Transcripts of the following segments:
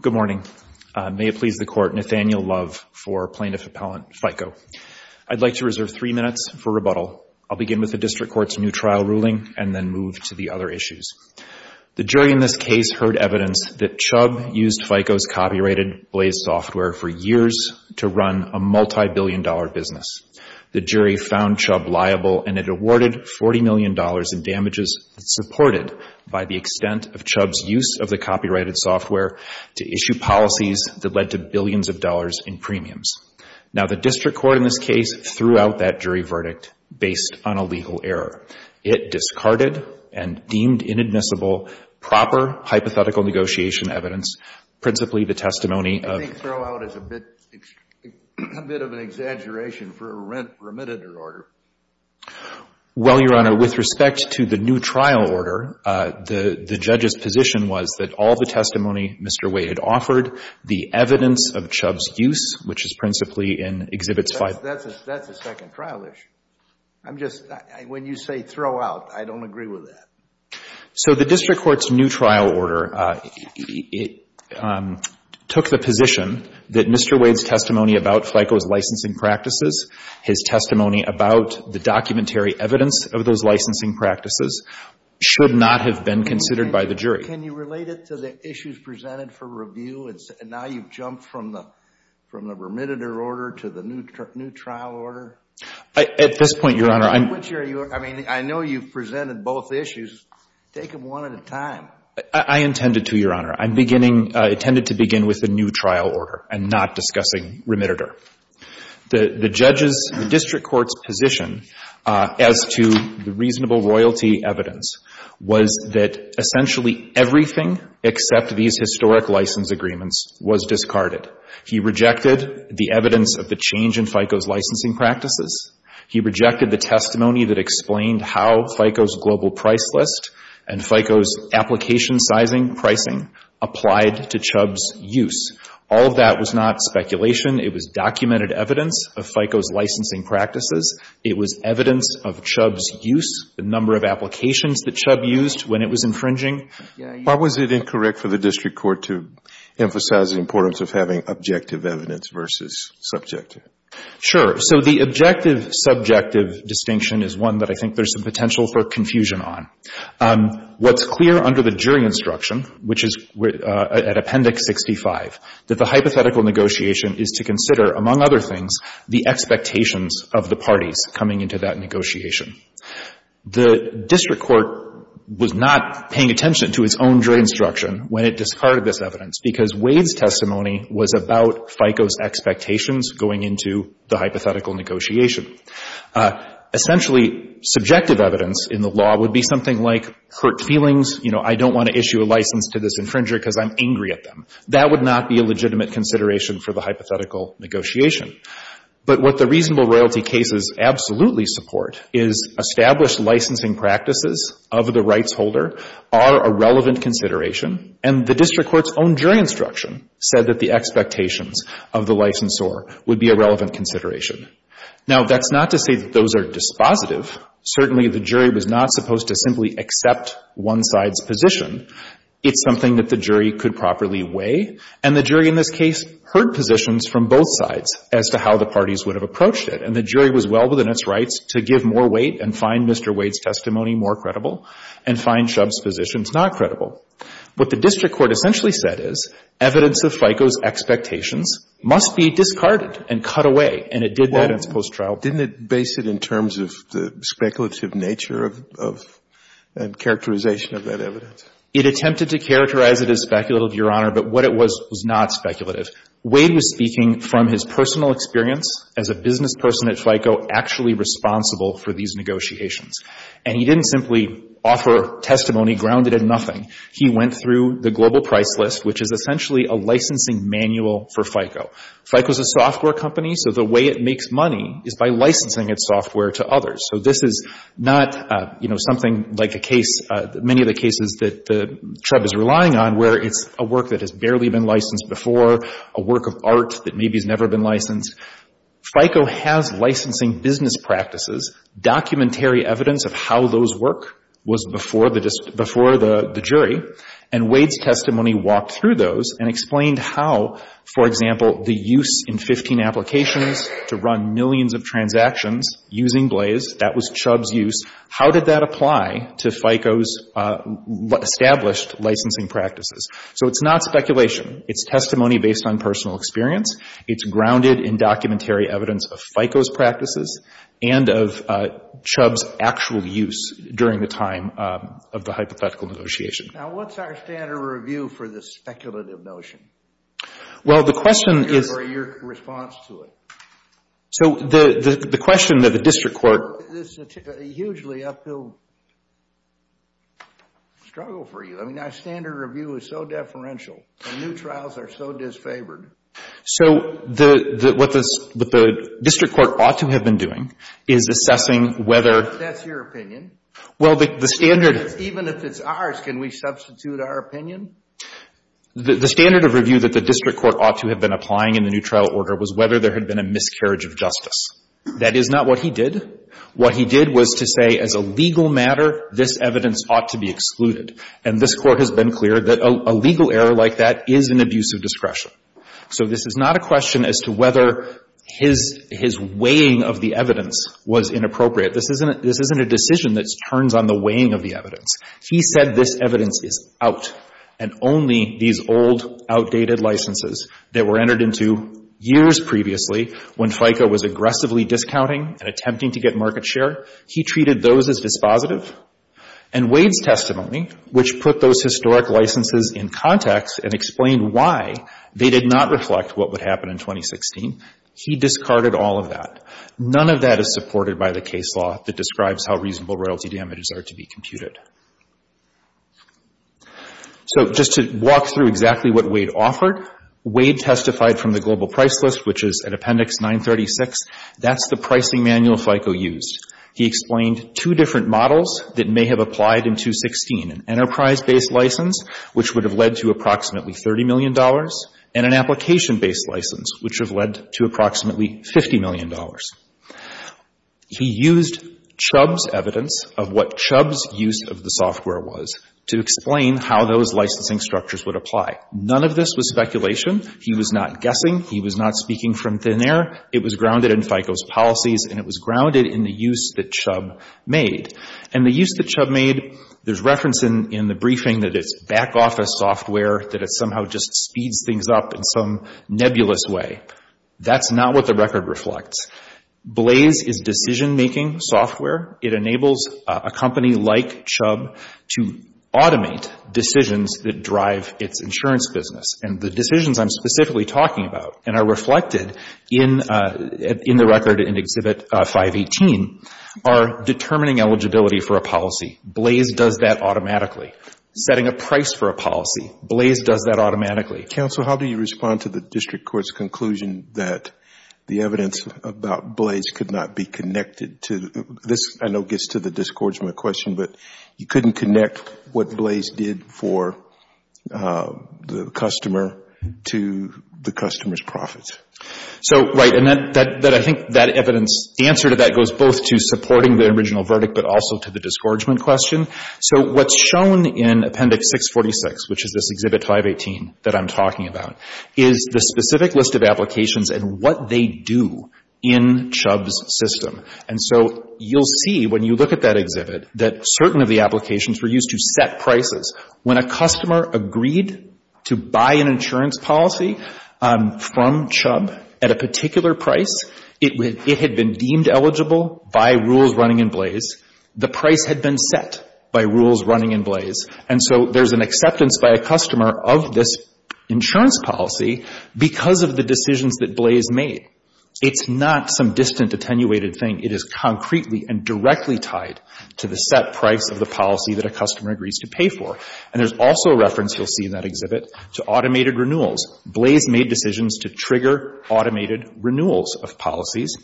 Good morning, may it please the Court, Nathaniel Love for Plaintiff Appellant FICO. I'd like to reserve three minutes for rebuttal. I'll begin with the District Court's new trial ruling and then move to the other issues. The jury in this case heard evidence that Chubb used FICO's copyrighted Blaze software for years to run a multi-billion dollar business. The jury found Chubb liable and it awarded $40 million in damages supported by the extent of Chubb's use of the copyrighted software to issue policies that led to billions of dollars in premiums. Now the District Court in this case threw out that jury verdict based on a legal error. It discarded and deemed inadmissible proper hypothetical negotiation evidence, principally the testimony of I think throw out is a bit of an exaggeration for a remitted order. Well, Your Honor, with respect to the new trial order, the judge's position was that all the testimony Mr. Wade offered, the evidence of Chubb's use, which is principally in Exhibits 5 That's a second trial issue. When you say throw out, I don't agree with that. So the District Court's new trial order, it took the position that Mr. Wade's testimony about FICO's licensing practices, his testimony about the documentary evidence of those licensing practices should not have been considered by the jury. Can you relate it to the issues presented for review and now you've jumped from the remitted order to the new trial order? At this point, Your Honor, I'm I'm not sure you are. I mean, I know you've presented both issues. Take them one at a time. I intended to, Your Honor. I'm beginning, intended to begin with the new trial order and not discussing remitted order. The judge's, the District Court's position as to the reasonable royalty evidence was that essentially everything except these historic license agreements was discarded. He rejected the evidence of the change in FICO's licensing practices. He rejected the testimony that explained how FICO's global price list and FICO's application sizing pricing applied to Chubb's use. All of that was not speculation. It was documented evidence of FICO's licensing practices. It was evidence of Chubb's use, the number of applications that Chubb used when it was infringing. Why was it incorrect for the District Court to emphasize the importance of having objective evidence versus subjective? Sure. So the objective-subjective distinction is one that I think there's some potential for confusion on. What's clear under the jury instruction, which is at Appendix 65, that the hypothetical negotiation is to consider, among other things, the expectations of the parties coming into that negotiation. The District Court was not paying attention to its own jury instruction when it discarded this evidence because Wade's testimony was about FICO's expectations going into the hypothetical negotiation. Essentially, subjective evidence in the law would be something like, hurt feelings, you know, I don't want to issue a license to this infringer because I'm angry at them. That would not be a legitimate consideration for the hypothetical negotiation. But what the reasonable royalty cases absolutely support is established licensing practices of the rights holder are a relevant consideration, and the District Court's own jury instruction said that the expectations of the licensor would be a relevant consideration. Now that's not to say that those are dispositive. Certainly the jury was not supposed to simply accept one side's position. It's something that the jury could properly weigh, and the jury in this case heard positions from both sides as to how the parties would have approached it. And the jury was well within its rights to give more weight and find Mr. Wade's testimony more credible and find Shub's positions not credible. What the District Court essentially said is evidence of FICO's expectations must be discarded and cut away, and it did that in its post-trial. Didn't it base it in terms of the speculative nature of characterization of that evidence? It attempted to characterize it as speculative, Your Honor, but what it was was not speculative. Wade was speaking from his personal experience as a business person at FICO actually responsible for these negotiations. And he didn't simply offer testimony grounded in nothing. He went through the Global Price List, which is essentially a licensing manual for FICO. FICO is a software company, so the way it makes money is by licensing its software to others. So this is not, you know, something like the case, many of the cases that Shub is relying on where it's a work that has barely been licensed before, a work of art that maybe has never been licensed. FICO has licensing business practices, documentary evidence of how those work was before the jury, and Wade's testimony walked through those and explained how, for example, the use in 15 applications to run millions of transactions using Blaze, that was Shub's use. How did that apply to FICO's established licensing practices? So it's not speculation. It's testimony based on personal experience. It's grounded in documentary evidence of FICO's practices and of Shub's actual use during the time of the hypothetical negotiation. Now, what's our standard review for this speculative notion or your response to it? So the question that the district court... This is a hugely uphill struggle for you. I mean, our standard review is so deferential and new trials are so disfavored. So what the district court ought to have been doing is assessing whether... That's your opinion. Well, the standard... Even if it's ours, can we substitute our opinion? The standard of review that the district court ought to have been applying in the new trial order was whether there had been a miscarriage of justice. That is not what he did. What he did was to say, as a legal matter, this evidence ought to be excluded. And this court has been clear that a legal error like that is an abuse of discretion. So this is not a question as to whether his weighing of the evidence was inappropriate. This isn't a decision that turns on the weighing of the evidence. He said this evidence is out and only these old, outdated licenses that were entered into years previously when FICO was aggressively discounting and attempting to get market share, he treated those as dispositive. And Wade's testimony, which put those historic licenses in context and explained why they did not reflect what would happen in 2016, he discarded all of that. None of that is supported by the case law that describes how reasonable royalty damages are to be computed. So just to walk through exactly what Wade offered, Wade testified from the global price list, which is in Appendix 936. That's the pricing manual FICO used. He explained two different models that may have applied in 2016, an enterprise-based license, which would have led to approximately $30 million, and an application-based license, which would have led to approximately $50 million. He used Chubb's evidence of what Chubb's use of the software was to explain how those licensing structures would apply. None of this was speculation. He was not guessing. He was not speaking from thin air. It was grounded in FICO's policies, and it was grounded in the use that Chubb made. And the use that Chubb made, there's reference in the briefing that it's back-office software, that it somehow just speeds things up in some nebulous way. That's not what the record reflects. Blaze is decision-making software. It enables a company like Chubb to automate decisions that drive its insurance business. And the decisions I'm specifically talking about and are reflected in the record in Exhibit 518 are determining eligibility for a policy. Blaze does that automatically. Setting a price for a policy, Blaze does that automatically. Counsel, how do you respond to the district court's conclusion that the evidence about Blaze could not be connected to this? I know it gets to the discouragement question, but you couldn't connect what Blaze did for the customer to the customer's profits. So right, and I think that evidence, the answer to that goes both to supporting the original verdict but also to the discouragement question. So what's shown in Appendix 646, which is this Exhibit 518 that I'm talking about, is the specific list of applications and what they do in Chubb's system. And so you'll see when you look at that exhibit that certain of the applications were used to set prices. When a customer agreed to buy an insurance policy from Chubb at a particular price, it had been deemed eligible by rules running in Blaze. The price had been set by rules running in Blaze. And so there's an acceptance by a customer of this insurance policy because of the decisions that Blaze made. It's not some distant attenuated thing. It is concretely and directly tied to the set price of the policy that a customer agrees to pay for. And there's also a reference you'll see in that exhibit to automated renewals. Blaze made decisions to trigger automated renewals of policies.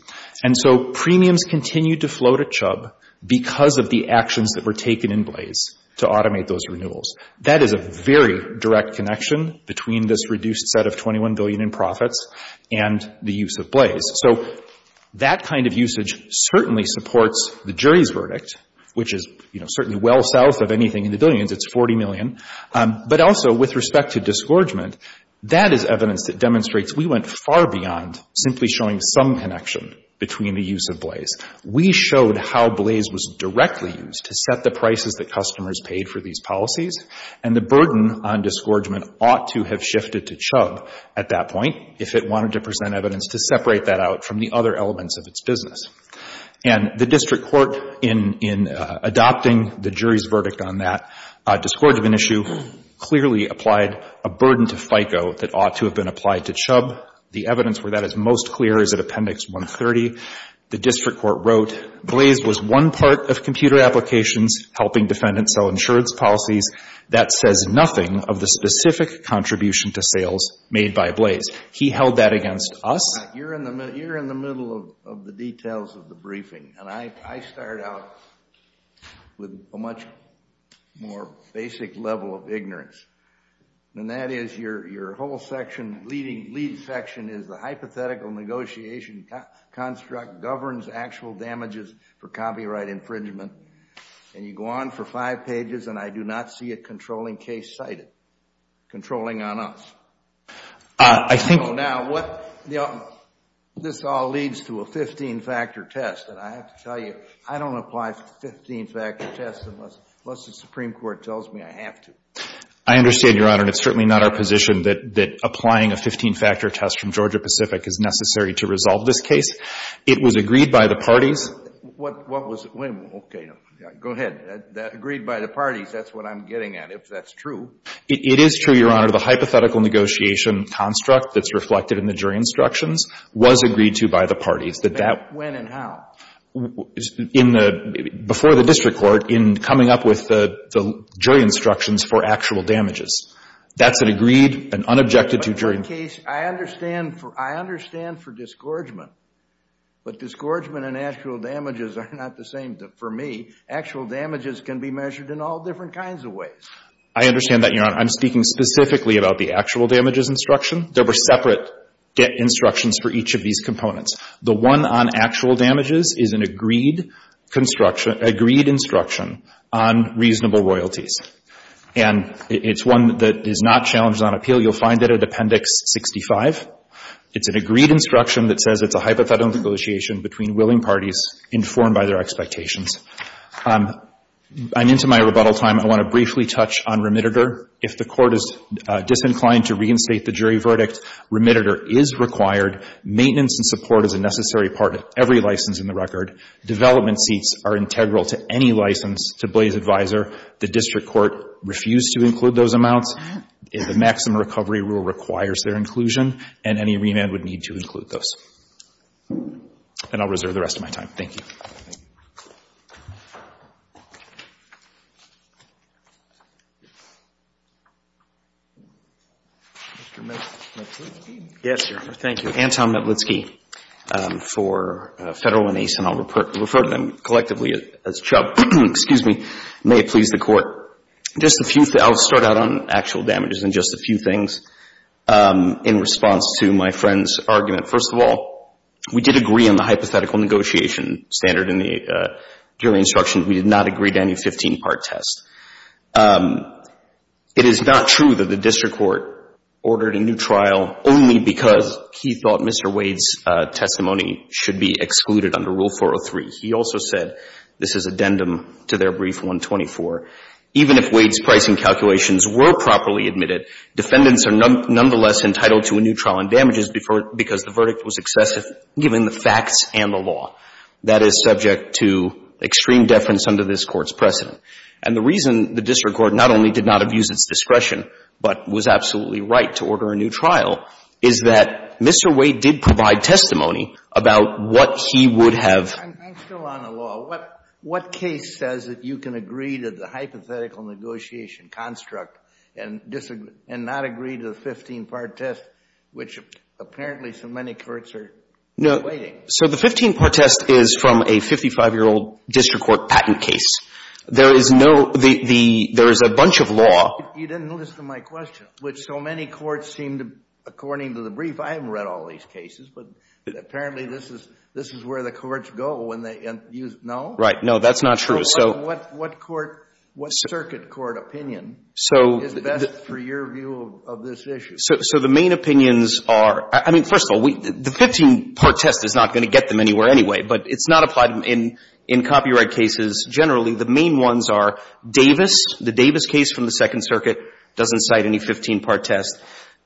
And so premiums continued to float at Chubb because of the actions that were taken in Blaze to automate those renewals. That is a very direct connection between this reduced set of $21 billion in profits and the use of Blaze. So that kind of usage certainly supports the jury's verdict, which is, you know, certainly well south of anything in the billions. It's $40 million. But also with respect to disgorgement, that is evidence that demonstrates we went far beyond simply showing some connection between the use of Blaze. We showed how Blaze was directly used to set the prices that customers paid for these policies. And the burden on disgorgement ought to have shifted to Chubb at that point if it wanted to present evidence to separate that out from the other elements of its business. And the district court in adopting the jury's verdict on that disgorgement issue clearly applied a burden to FICO that ought to have been applied to Chubb. The evidence where that is most clear is at Appendix 130. The district court wrote, Blaze was one part of computer applications helping defendants sell insurance policies that says nothing of the specific contribution to sales made by Blaze. He held that against us. You're in the middle of the details of the briefing, and I start out with a much more basic level of ignorance, and that is your whole section, leading section, is the hypothetical negotiation construct governs actual damages for copyright infringement, and you go on for five pages and I do not see a controlling case cited, controlling on us. Now, this all leads to a 15-factor test, and I have to tell you, I don't apply 15-factor tests unless the Supreme Court tells me I have to. I understand, Your Honor, and it's certainly not our position that applying a 15-factor test from Georgia-Pacific is necessary to resolve this case. It was agreed by the parties. What was it? Wait a minute. Okay. Go ahead. Agreed by the parties, that's what I'm getting at. If that's true. It is true, Your Honor. The hypothetical negotiation construct that's reflected in the jury instructions was agreed to by the parties. That that... When and how? In the... Before the district court, in coming up with the jury instructions for actual damages. That's an agreed and unobjected to jury... But in that case, I understand for disgorgement, but disgorgement and actual damages are not the same for me. Actual damages can be measured in all different kinds of ways. I understand that, Your Honor. I'm speaking specifically about the actual damages instruction. There were separate instructions for each of these components. The one on actual damages is an agreed construction, agreed instruction on reasonable royalties. And it's one that is not challenged on appeal. You'll find it at Appendix 65. It's an agreed instruction that says it's a hypothetical negotiation between willing parties informed by their expectations. I'm into my rebuttal time. I want to briefly touch on remittitor. If the court is disinclined to reinstate the jury verdict, remittitor is required. Maintenance and support is a necessary part of every license in the record. Development seats are integral to any license to Blaze Advisor. The district court refused to include those amounts. The maximum recovery rule requires their inclusion. And any remand would need to include those. And I'll reserve the rest of my time. Thank you. Mr. Metlitsky? Yes, Your Honor. Thank you. Anton Metlitsky for Federal and Ace. And I'll refer to them collectively as Chubb. Excuse me. May it please the Court. Just a few, I'll start out on actual damages and just a few things in response to my friend's argument. First of all, we did agree on the hypothetical negotiation standard in the jury instruction. We did not agree to any 15-part test. It is not true that the district court ordered a new trial only because he thought Mr. Wade's testimony should be excluded under Rule 403. He also said, this is addendum to their brief 124, even if Wade's pricing calculations were properly admitted, defendants are nonetheless entitled to a new trial on damages because the verdict was excessive given the facts and the law. That is subject to extreme deference under this Court's precedent. And the reason the district court not only did not abuse its discretion, but was absolutely right to order a new trial, is that Mr. Wade did provide testimony about what he would have ---- I'm still on the law. What case says that you can agree to the hypothetical negotiation construct and not agree to the 15-part test, which apparently so many courts are debating? So the 15-part test is from a 55-year-old district court patent case. There is no ---- there is a bunch of law ---- You didn't listen to my question, which so many courts seem to, according to the brief, I haven't read all these cases, but apparently this is where the courts go when they use ---- No. Right. No, that's not true. So ---- What court, what circuit court opinion is best for your view of this issue? So the main opinions are ---- I mean, first of all, the 15-part test is not going to get them anywhere anyway, but it's not applied in copyright cases generally. The main ones are Davis, the Davis case from the Second Circuit, doesn't cite any 15-part test.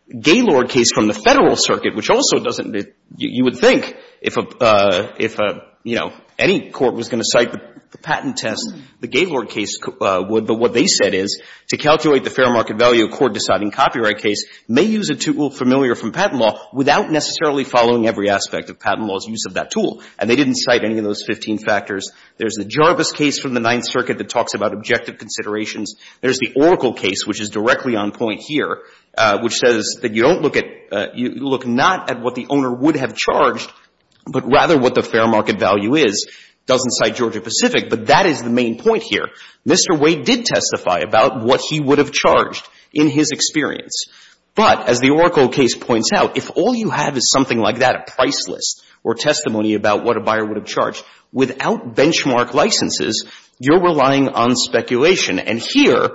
Gaylord case from the Federal Circuit, which also doesn't ---- you would think if, you know, any court was going to cite the patent test, the Gaylord case would. But what they said is, to calculate the fair market value, a court deciding copyright case may use a tool familiar from patent law without necessarily following every aspect of patent law's use of that tool. And they didn't cite any of those 15 factors. There's the Jarvis case from the Ninth Circuit that talks about objective considerations. There's the Oracle case, which is directly on point here, which says that you don't look at ---- you look not at what the owner would have charged, but rather what the fair market value is. It doesn't cite Georgia-Pacific, but that is the main point here. Mr. Wade did testify about what he would have charged in his experience. But as the Oracle case points out, if all you have is something like that, a price list or testimony about what a buyer would have charged, without benchmark licenses, you're relying on speculation. And here,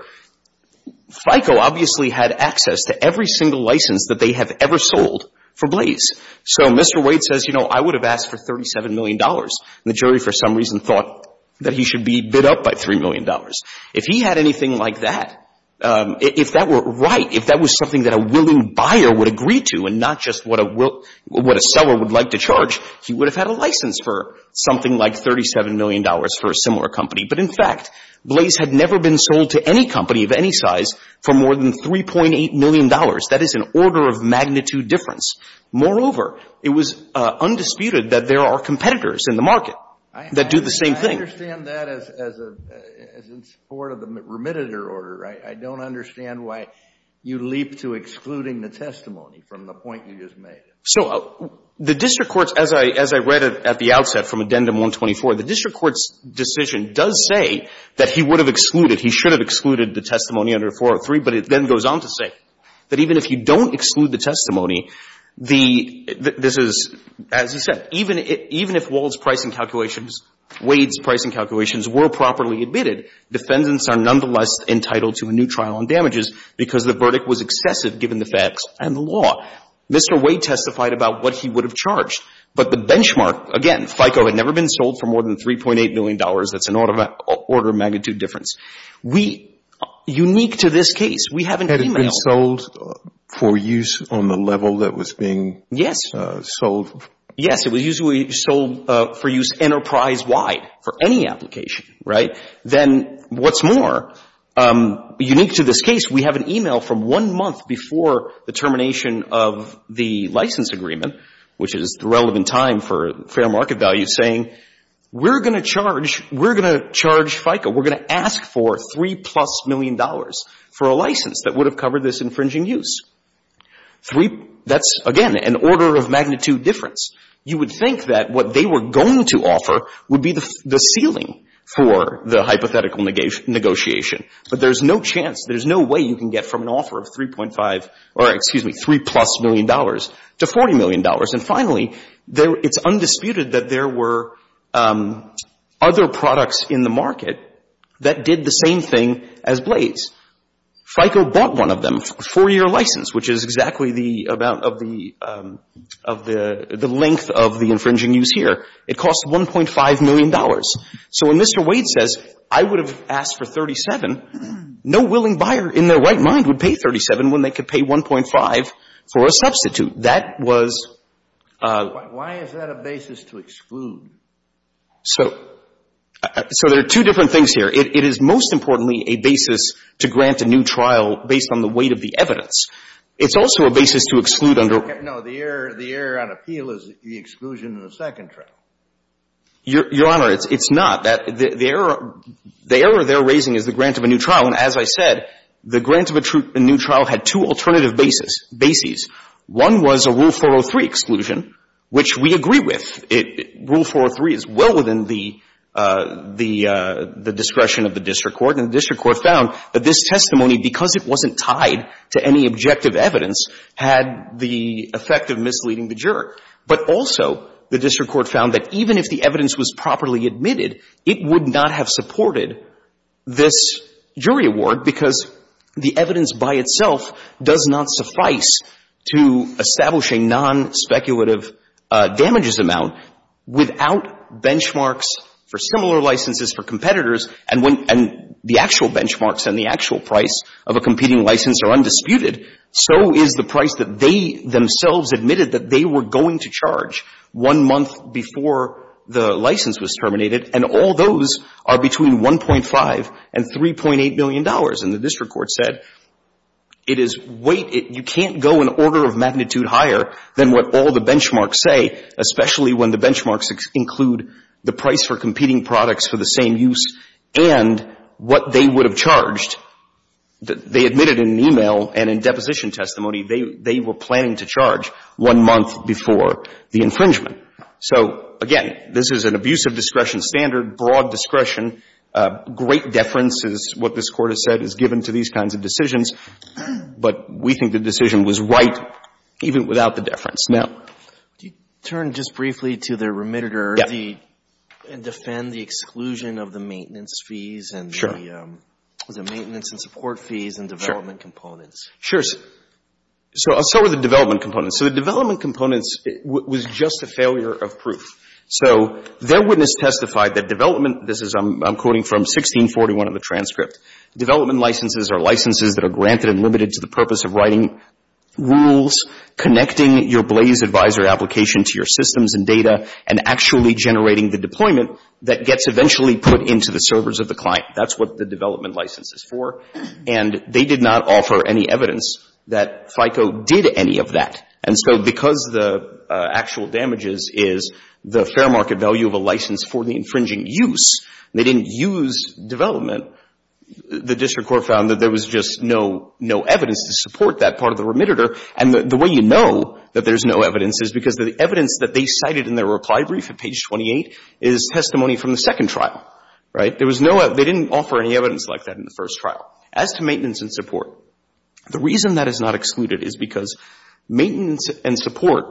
FICO obviously had access to every single license that they have ever sold for Blaze. So Mr. Wade says, you know, I would have asked for $37 million. The jury for some reason thought that he should be bid up by $3 million. If he had anything like that, if that were right, if that was something that a willing buyer would agree to and not just what a seller would like to charge, he would have had a license for something like $37 million for a similar company. But in fact, Blaze had never been sold to any company of any size for more than $3.8 million. That is an order of magnitude difference. Moreover, it was undisputed that there are competitors in the market that do the same thing. I understand that as in support of the remitted order, right? I don't understand why you leap to excluding the testimony from the point you just made. So the district courts, as I read it at the outset from Addendum 124, the district court's decision does say that he would have excluded, he should have excluded the testimony under 403, but it then goes on to say that even if you don't exclude the testimony, this is, as you said, even if Wahl's pricing calculations, Wade's pricing calculations were properly admitted, defendants are nonetheless entitled to a new trial on damages because the verdict was excessive given the facts and the law. Mr. Wade testified about what he would have charged, but the benchmark, again, FICO had never been sold for more than $3.8 million. That's an order of magnitude difference. We, unique to this case, we have an email. Had it been sold for use on the level that was being sold? Yes. It was usually sold for use enterprise-wide for any application, right? Then what's more, unique to this case, we have an email from one month before the termination of the license agreement, which is the relevant time for fair market value, saying, we're going to charge, we're going to charge FICO. We're going to ask for $3-plus million for a license that would have covered this infringing use. Three, that's, again, an order of magnitude difference. You would think that what they were going to offer would be the ceiling for the hypothetical negotiation, but there's no chance, there's no way you can get from an offer of 3.5, or excuse me, $3-plus million to $40 million. And finally, it's undisputed that there were other products in the market that did the same thing as Blades. FICO bought one of them, a four-year license, which is exactly the length of the infringing use here. It cost $1.5 million. So when Mr. Wade says, I would have asked for 37, no willing buyer in their right mind would pay 37 when they could pay 1.5 for a substitute. That was a… Why is that a basis to exclude? So there are two different things here. It is, most importantly, a basis to grant a new trial based on the weight of the evidence. It's also a basis to exclude under… No, the error on appeal is the exclusion of the second trial. Your Honor, it's not. The error they're raising is the grant of a new trial, and as I said, the grant of a new trial had two alternative bases. One was a Rule 403 exclusion, which we agree with. Rule 403 is well within the discretion of the district court, and the district court found that this testimony, because it wasn't tied to any objective evidence, had the effect of misleading the juror. But also, the district court found that even if the evidence was properly admitted, it would not have supported this jury award because the evidence by itself does not suffice to establish a nonspeculative damages amount without benchmarks for similar licenses for competitors, and the actual benchmarks and the actual price of a competing license are undisputed, so is the price that they themselves admitted that they were going to charge one month before the license was terminated, and all those are between $1.5 and $3.8 million. And the district court said, wait, you can't go an order of magnitude higher than what all the benchmarks say, especially when the benchmarks include the price for competing products for the same use and what they would have charged. They admitted in an e-mail and in deposition testimony they were planning to charge one month before the infringement. So, again, this is an abuse of discretion standard, broad discretion, great deference is what this Court has said is given to these kinds of decisions, but we think the decision was right even without the deference. Now... Do you turn just briefly to the remitter and defend the exclusion of the maintenance fees and the maintenance and support fees and development components? Sure. So are the development components. So the development components was just a failure of proof. So their witness testified that development, this is, I'm quoting from 1641 of the transcript, development licenses are licenses that are granted and limited to the purpose of writing rules, connecting your Blaze Advisor application to your systems and data, and actually generating the deployment that gets eventually put into the servers of the client. That's what the development license is for. And they did not offer any evidence that FICO did any of that. And so because the actual damages is the fair market value of a license for the infringing use, they didn't use development, the district court found that there was just no evidence to support that part of the remitter. And the way you know that there's no evidence is because the evidence that they cited in their reply brief at page 28 is testimony from the second trial. Right? There was no, they didn't offer any evidence like that in the first trial. As to maintenance and support, the reason that is not excluded is because maintenance and support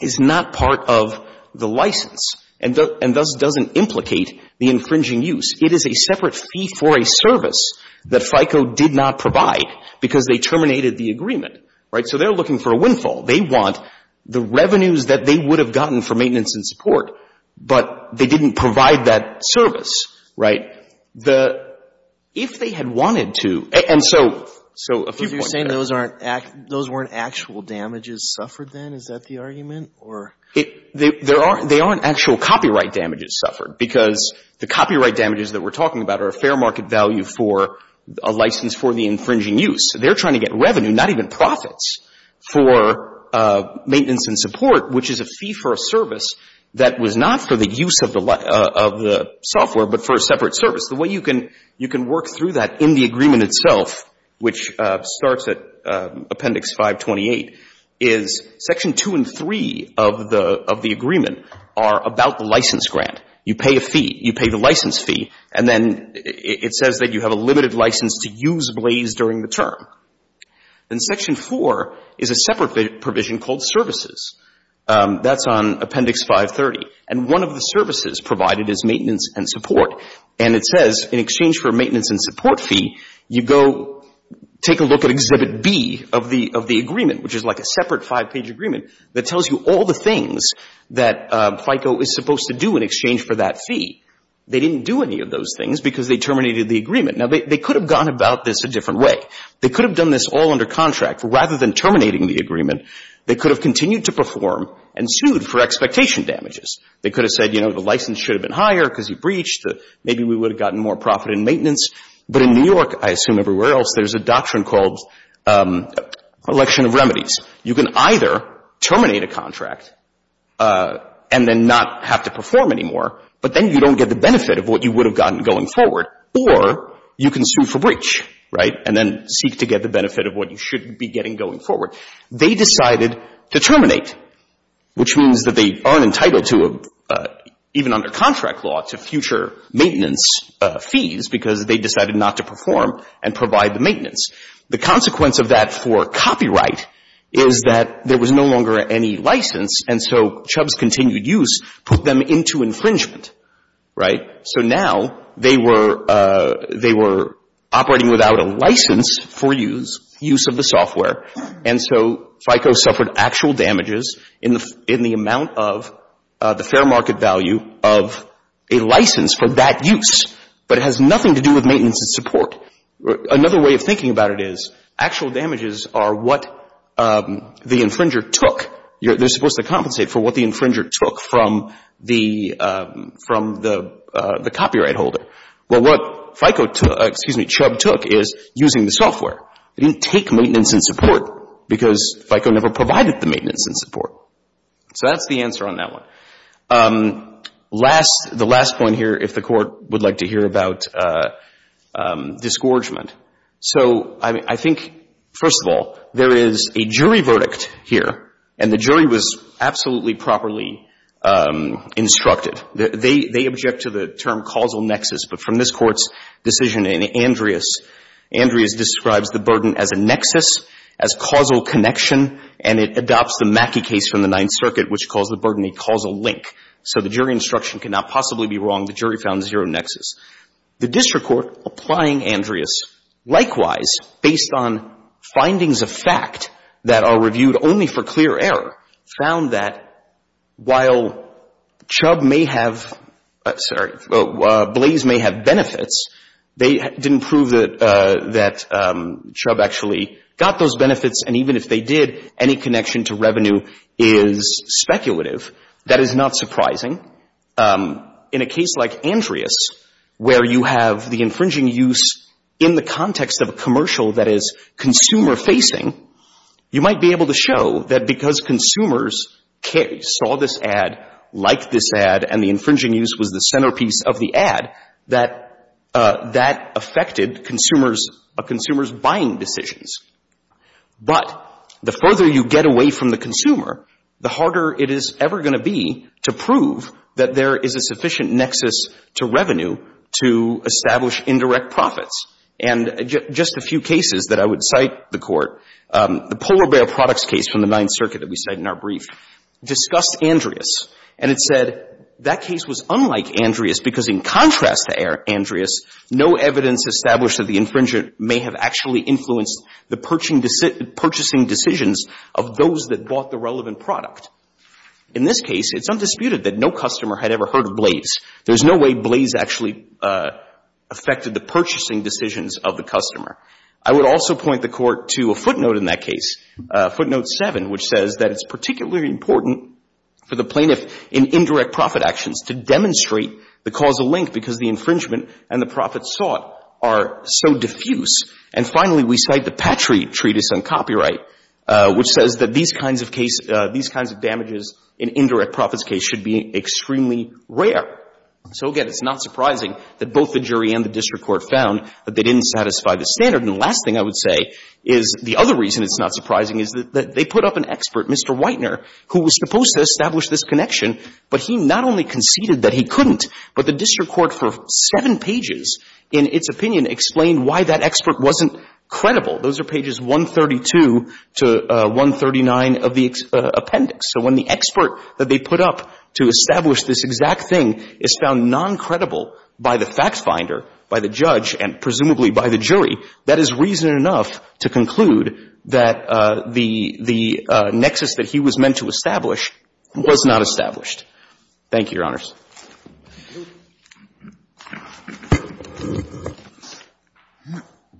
is not part of the license and thus doesn't implicate the infringing use. It is a separate fee for a service that FICO did not provide because they terminated the agreement. Right? So they're looking for a windfall. They want the revenues that they would have gotten for maintenance and support, but they didn't provide that service. Right? The, if they had wanted to, and so, so a few points there. So you're saying those aren't, those weren't actual damages suffered then? Is that the argument? Or? There aren't, they aren't actual copyright damages suffered because the copyright damages that we're talking about are a fair market value for a license for the infringing use. So they're trying to get revenue, not even profits, for maintenance and support, which is a fee for a service that was not for the use of the, of the software, but for a separate service. The way you can, you can work through that in the agreement itself, which starts at Appendix 528, is Section 2 and 3 of the, of the agreement are about the license grant. You pay a fee. You pay the license fee. And then it says that you have a limited license to use Blaze during the term. Then Section 4 is a separate provision called services. That's on Appendix 530. And one of the services provided is maintenance and support. And it says in exchange for a maintenance and support fee, you go take a look at Exhibit B of the, of the agreement, which is like a separate five-page agreement that tells you all the things that FICO is supposed to do in exchange for that fee. They didn't do any of those things because they terminated the agreement. Now, they could have gone about this a different way. They could have done this all under contract. Rather than terminating the agreement, they could have continued to perform and sued for expectation damages. They could have said, you know, the license should have been higher because you breached. Maybe we would have gotten more profit in maintenance. But in New York, I assume everywhere else, there's a doctrine called election of remedies. You can either terminate a contract and then not have to perform anymore, but then you don't get the benefit of what you would have gotten going forward, or you can sue for breach, right? And then seek to get the benefit of what you should be getting going forward. They decided to terminate, which means that they aren't entitled to, even under contract law, to future maintenance fees because they decided not to perform and provide the maintenance. The consequence of that for copyright is that there was no longer any license, and so Chubb's continued use put them into infringement, right? So now they were operating without a license for use of the software. And so FICO suffered actual damages in the amount of the fair market value of a license for that use. But it has nothing to do with maintenance and support. Another way of thinking about it is actual damages are what the infringer took. They're supposed to compensate for what the infringer took from the copyright holder. Well, what FICO took, excuse me, Chubb took is using the software. They didn't take maintenance and support because FICO never provided the maintenance and support. So that's the answer on that one. The last point here, if the Court would like to hear about disgorgement. So I think, first of all, there is a jury verdict here, and the jury was absolutely properly instructed. They object to the term causal nexus. But from this Court's decision in Andreas, Andreas describes the burden as a nexus, as causal connection, and it adopts the Mackey case from the Ninth Circuit, which calls the burden a causal link. So the jury instruction cannot possibly be wrong. The jury found zero nexus. The district court applying Andreas, likewise, based on findings of fact that are reviewed only for clear error, found that while Chubb may have, sorry, Blaze may have benefits, they didn't prove that Chubb actually got those benefits, and even if they did, any connection to revenue is speculative. That is not surprising. In a case like Andreas, where you have the infringing use in the context of a commercial that is consumer-facing, you might be able to show that because consumers saw this ad, liked this ad, and the infringing use was the centerpiece of the ad, that that affected consumers' buying decisions. But the further you get away from the consumer, the harder it is ever going to be to prove that there is a sufficient nexus to revenue to establish indirect profits. And just a few cases that I would cite the Court, the polar bear products case from the Ninth Circuit that we cite in our brief, discussed Andreas. And it said that case was unlike Andreas because in contrast to Andreas, no evidence established that the infringer may have actually influenced the purchasing decisions of those that bought the relevant product. In this case, it's undisputed that no customer had ever heard of Blaze. There's no way Blaze actually affected the purchasing decisions of the customer. I would also point the Court to a footnote in that case, footnote 7, which says that it's particularly important for the plaintiff in indirect profit actions to demonstrate the causal link because the infringement and the profit sought are so diffuse. And finally, we cite the Patriot Treatise on Copyright, which says that these kinds of cases, these kinds of damages in indirect profits case should be extremely rare. So, again, it's not surprising that both the jury and the district court found that they didn't satisfy the standard. And the last thing I would say is the other reason it's not surprising is that they put up an expert, Mr. Whitener, who was supposed to establish this connection, but he not only conceded that he couldn't, but the district court for seven pages in its opinion explained why that expert wasn't credible. Those are pages 132 to 139 of the appendix. So when the expert that they put up to establish this exact thing is found non-credible by the fact finder, by the judge, and presumably by the jury, that is reason enough to conclude that the nexus that he was meant to establish was not established. Thank you, Your Honors.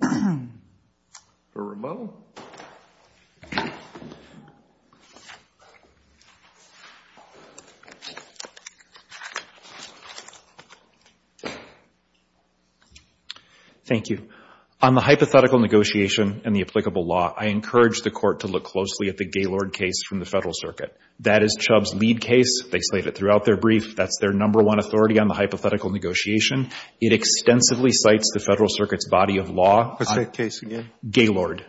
Thank you. For Rameau. Thank you. On the hypothetical negotiation and the applicable law, I encourage the court to look closely at the Gaylord case from the Federal Circuit. That is Chubb's lead case. They state it throughout their brief. That's their number one authority on the hypothetical negotiation. It extensively cites the Federal Circuit's body of law. What's that case again? Gaylord.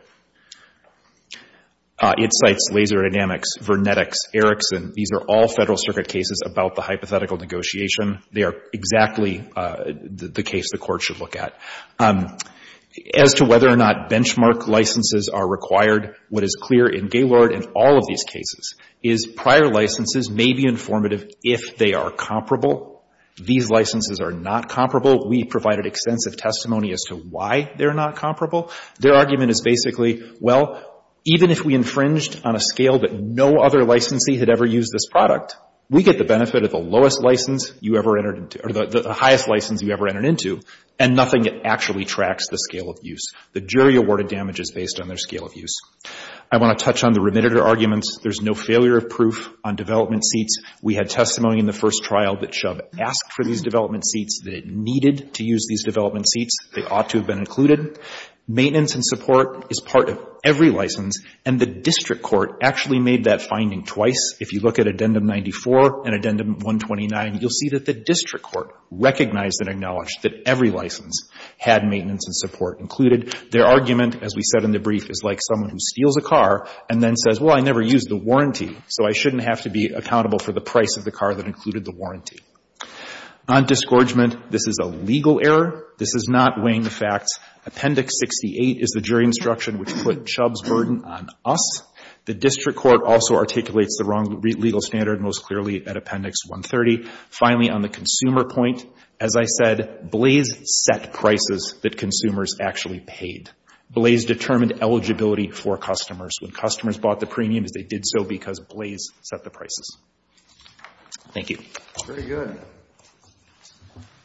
It cites Laser Dynamics, Vernetics, Erickson. These are all Federal Circuit cases about the hypothetical negotiation. They are exactly the case the court should look at. As to whether or not benchmark licenses are required, what is clear in Gaylord and all of these cases is prior licenses may be informative if they are comparable. These licenses are not comparable. We provided extensive testimony as to why they're not comparable. Their argument is basically, well, even if we infringed on a scale that no other licensee had ever used this product, we get the benefit of the lowest license you ever entered into, or the highest license you ever entered into, and nothing actually tracks the scale of use. The jury awarded damages based on their scale of use. I want to touch on the remitted arguments. There's no failure of proof on development seats. We had testimony in the first trial that Chubb asked for these development seats, that it needed to use these development seats, they ought to have been included. Maintenance and support is part of every license, and the district court actually made that finding twice. If you look at Addendum 94 and Addendum 129, you'll see that the district court recognized and acknowledged that every license had maintenance and support included. Their argument, as we said in the brief, is like someone who steals a car and then says, well, I never used the warranty, so I shouldn't have to be accountable for the price of the car that included the warranty. On disgorgement, this is a legal error. This is not weighing the facts. Appendix 68 is the jury instruction which put Chubb's burden on us. The district court also articulates the wrong legal standard most clearly at Appendix 130. Finally, on the consumer point, as I said, Blaze set prices that consumers actually paid. Blaze determined eligibility for customers. When customers bought the premiums, they did so because Blaze set the prices. Thank you. Very good.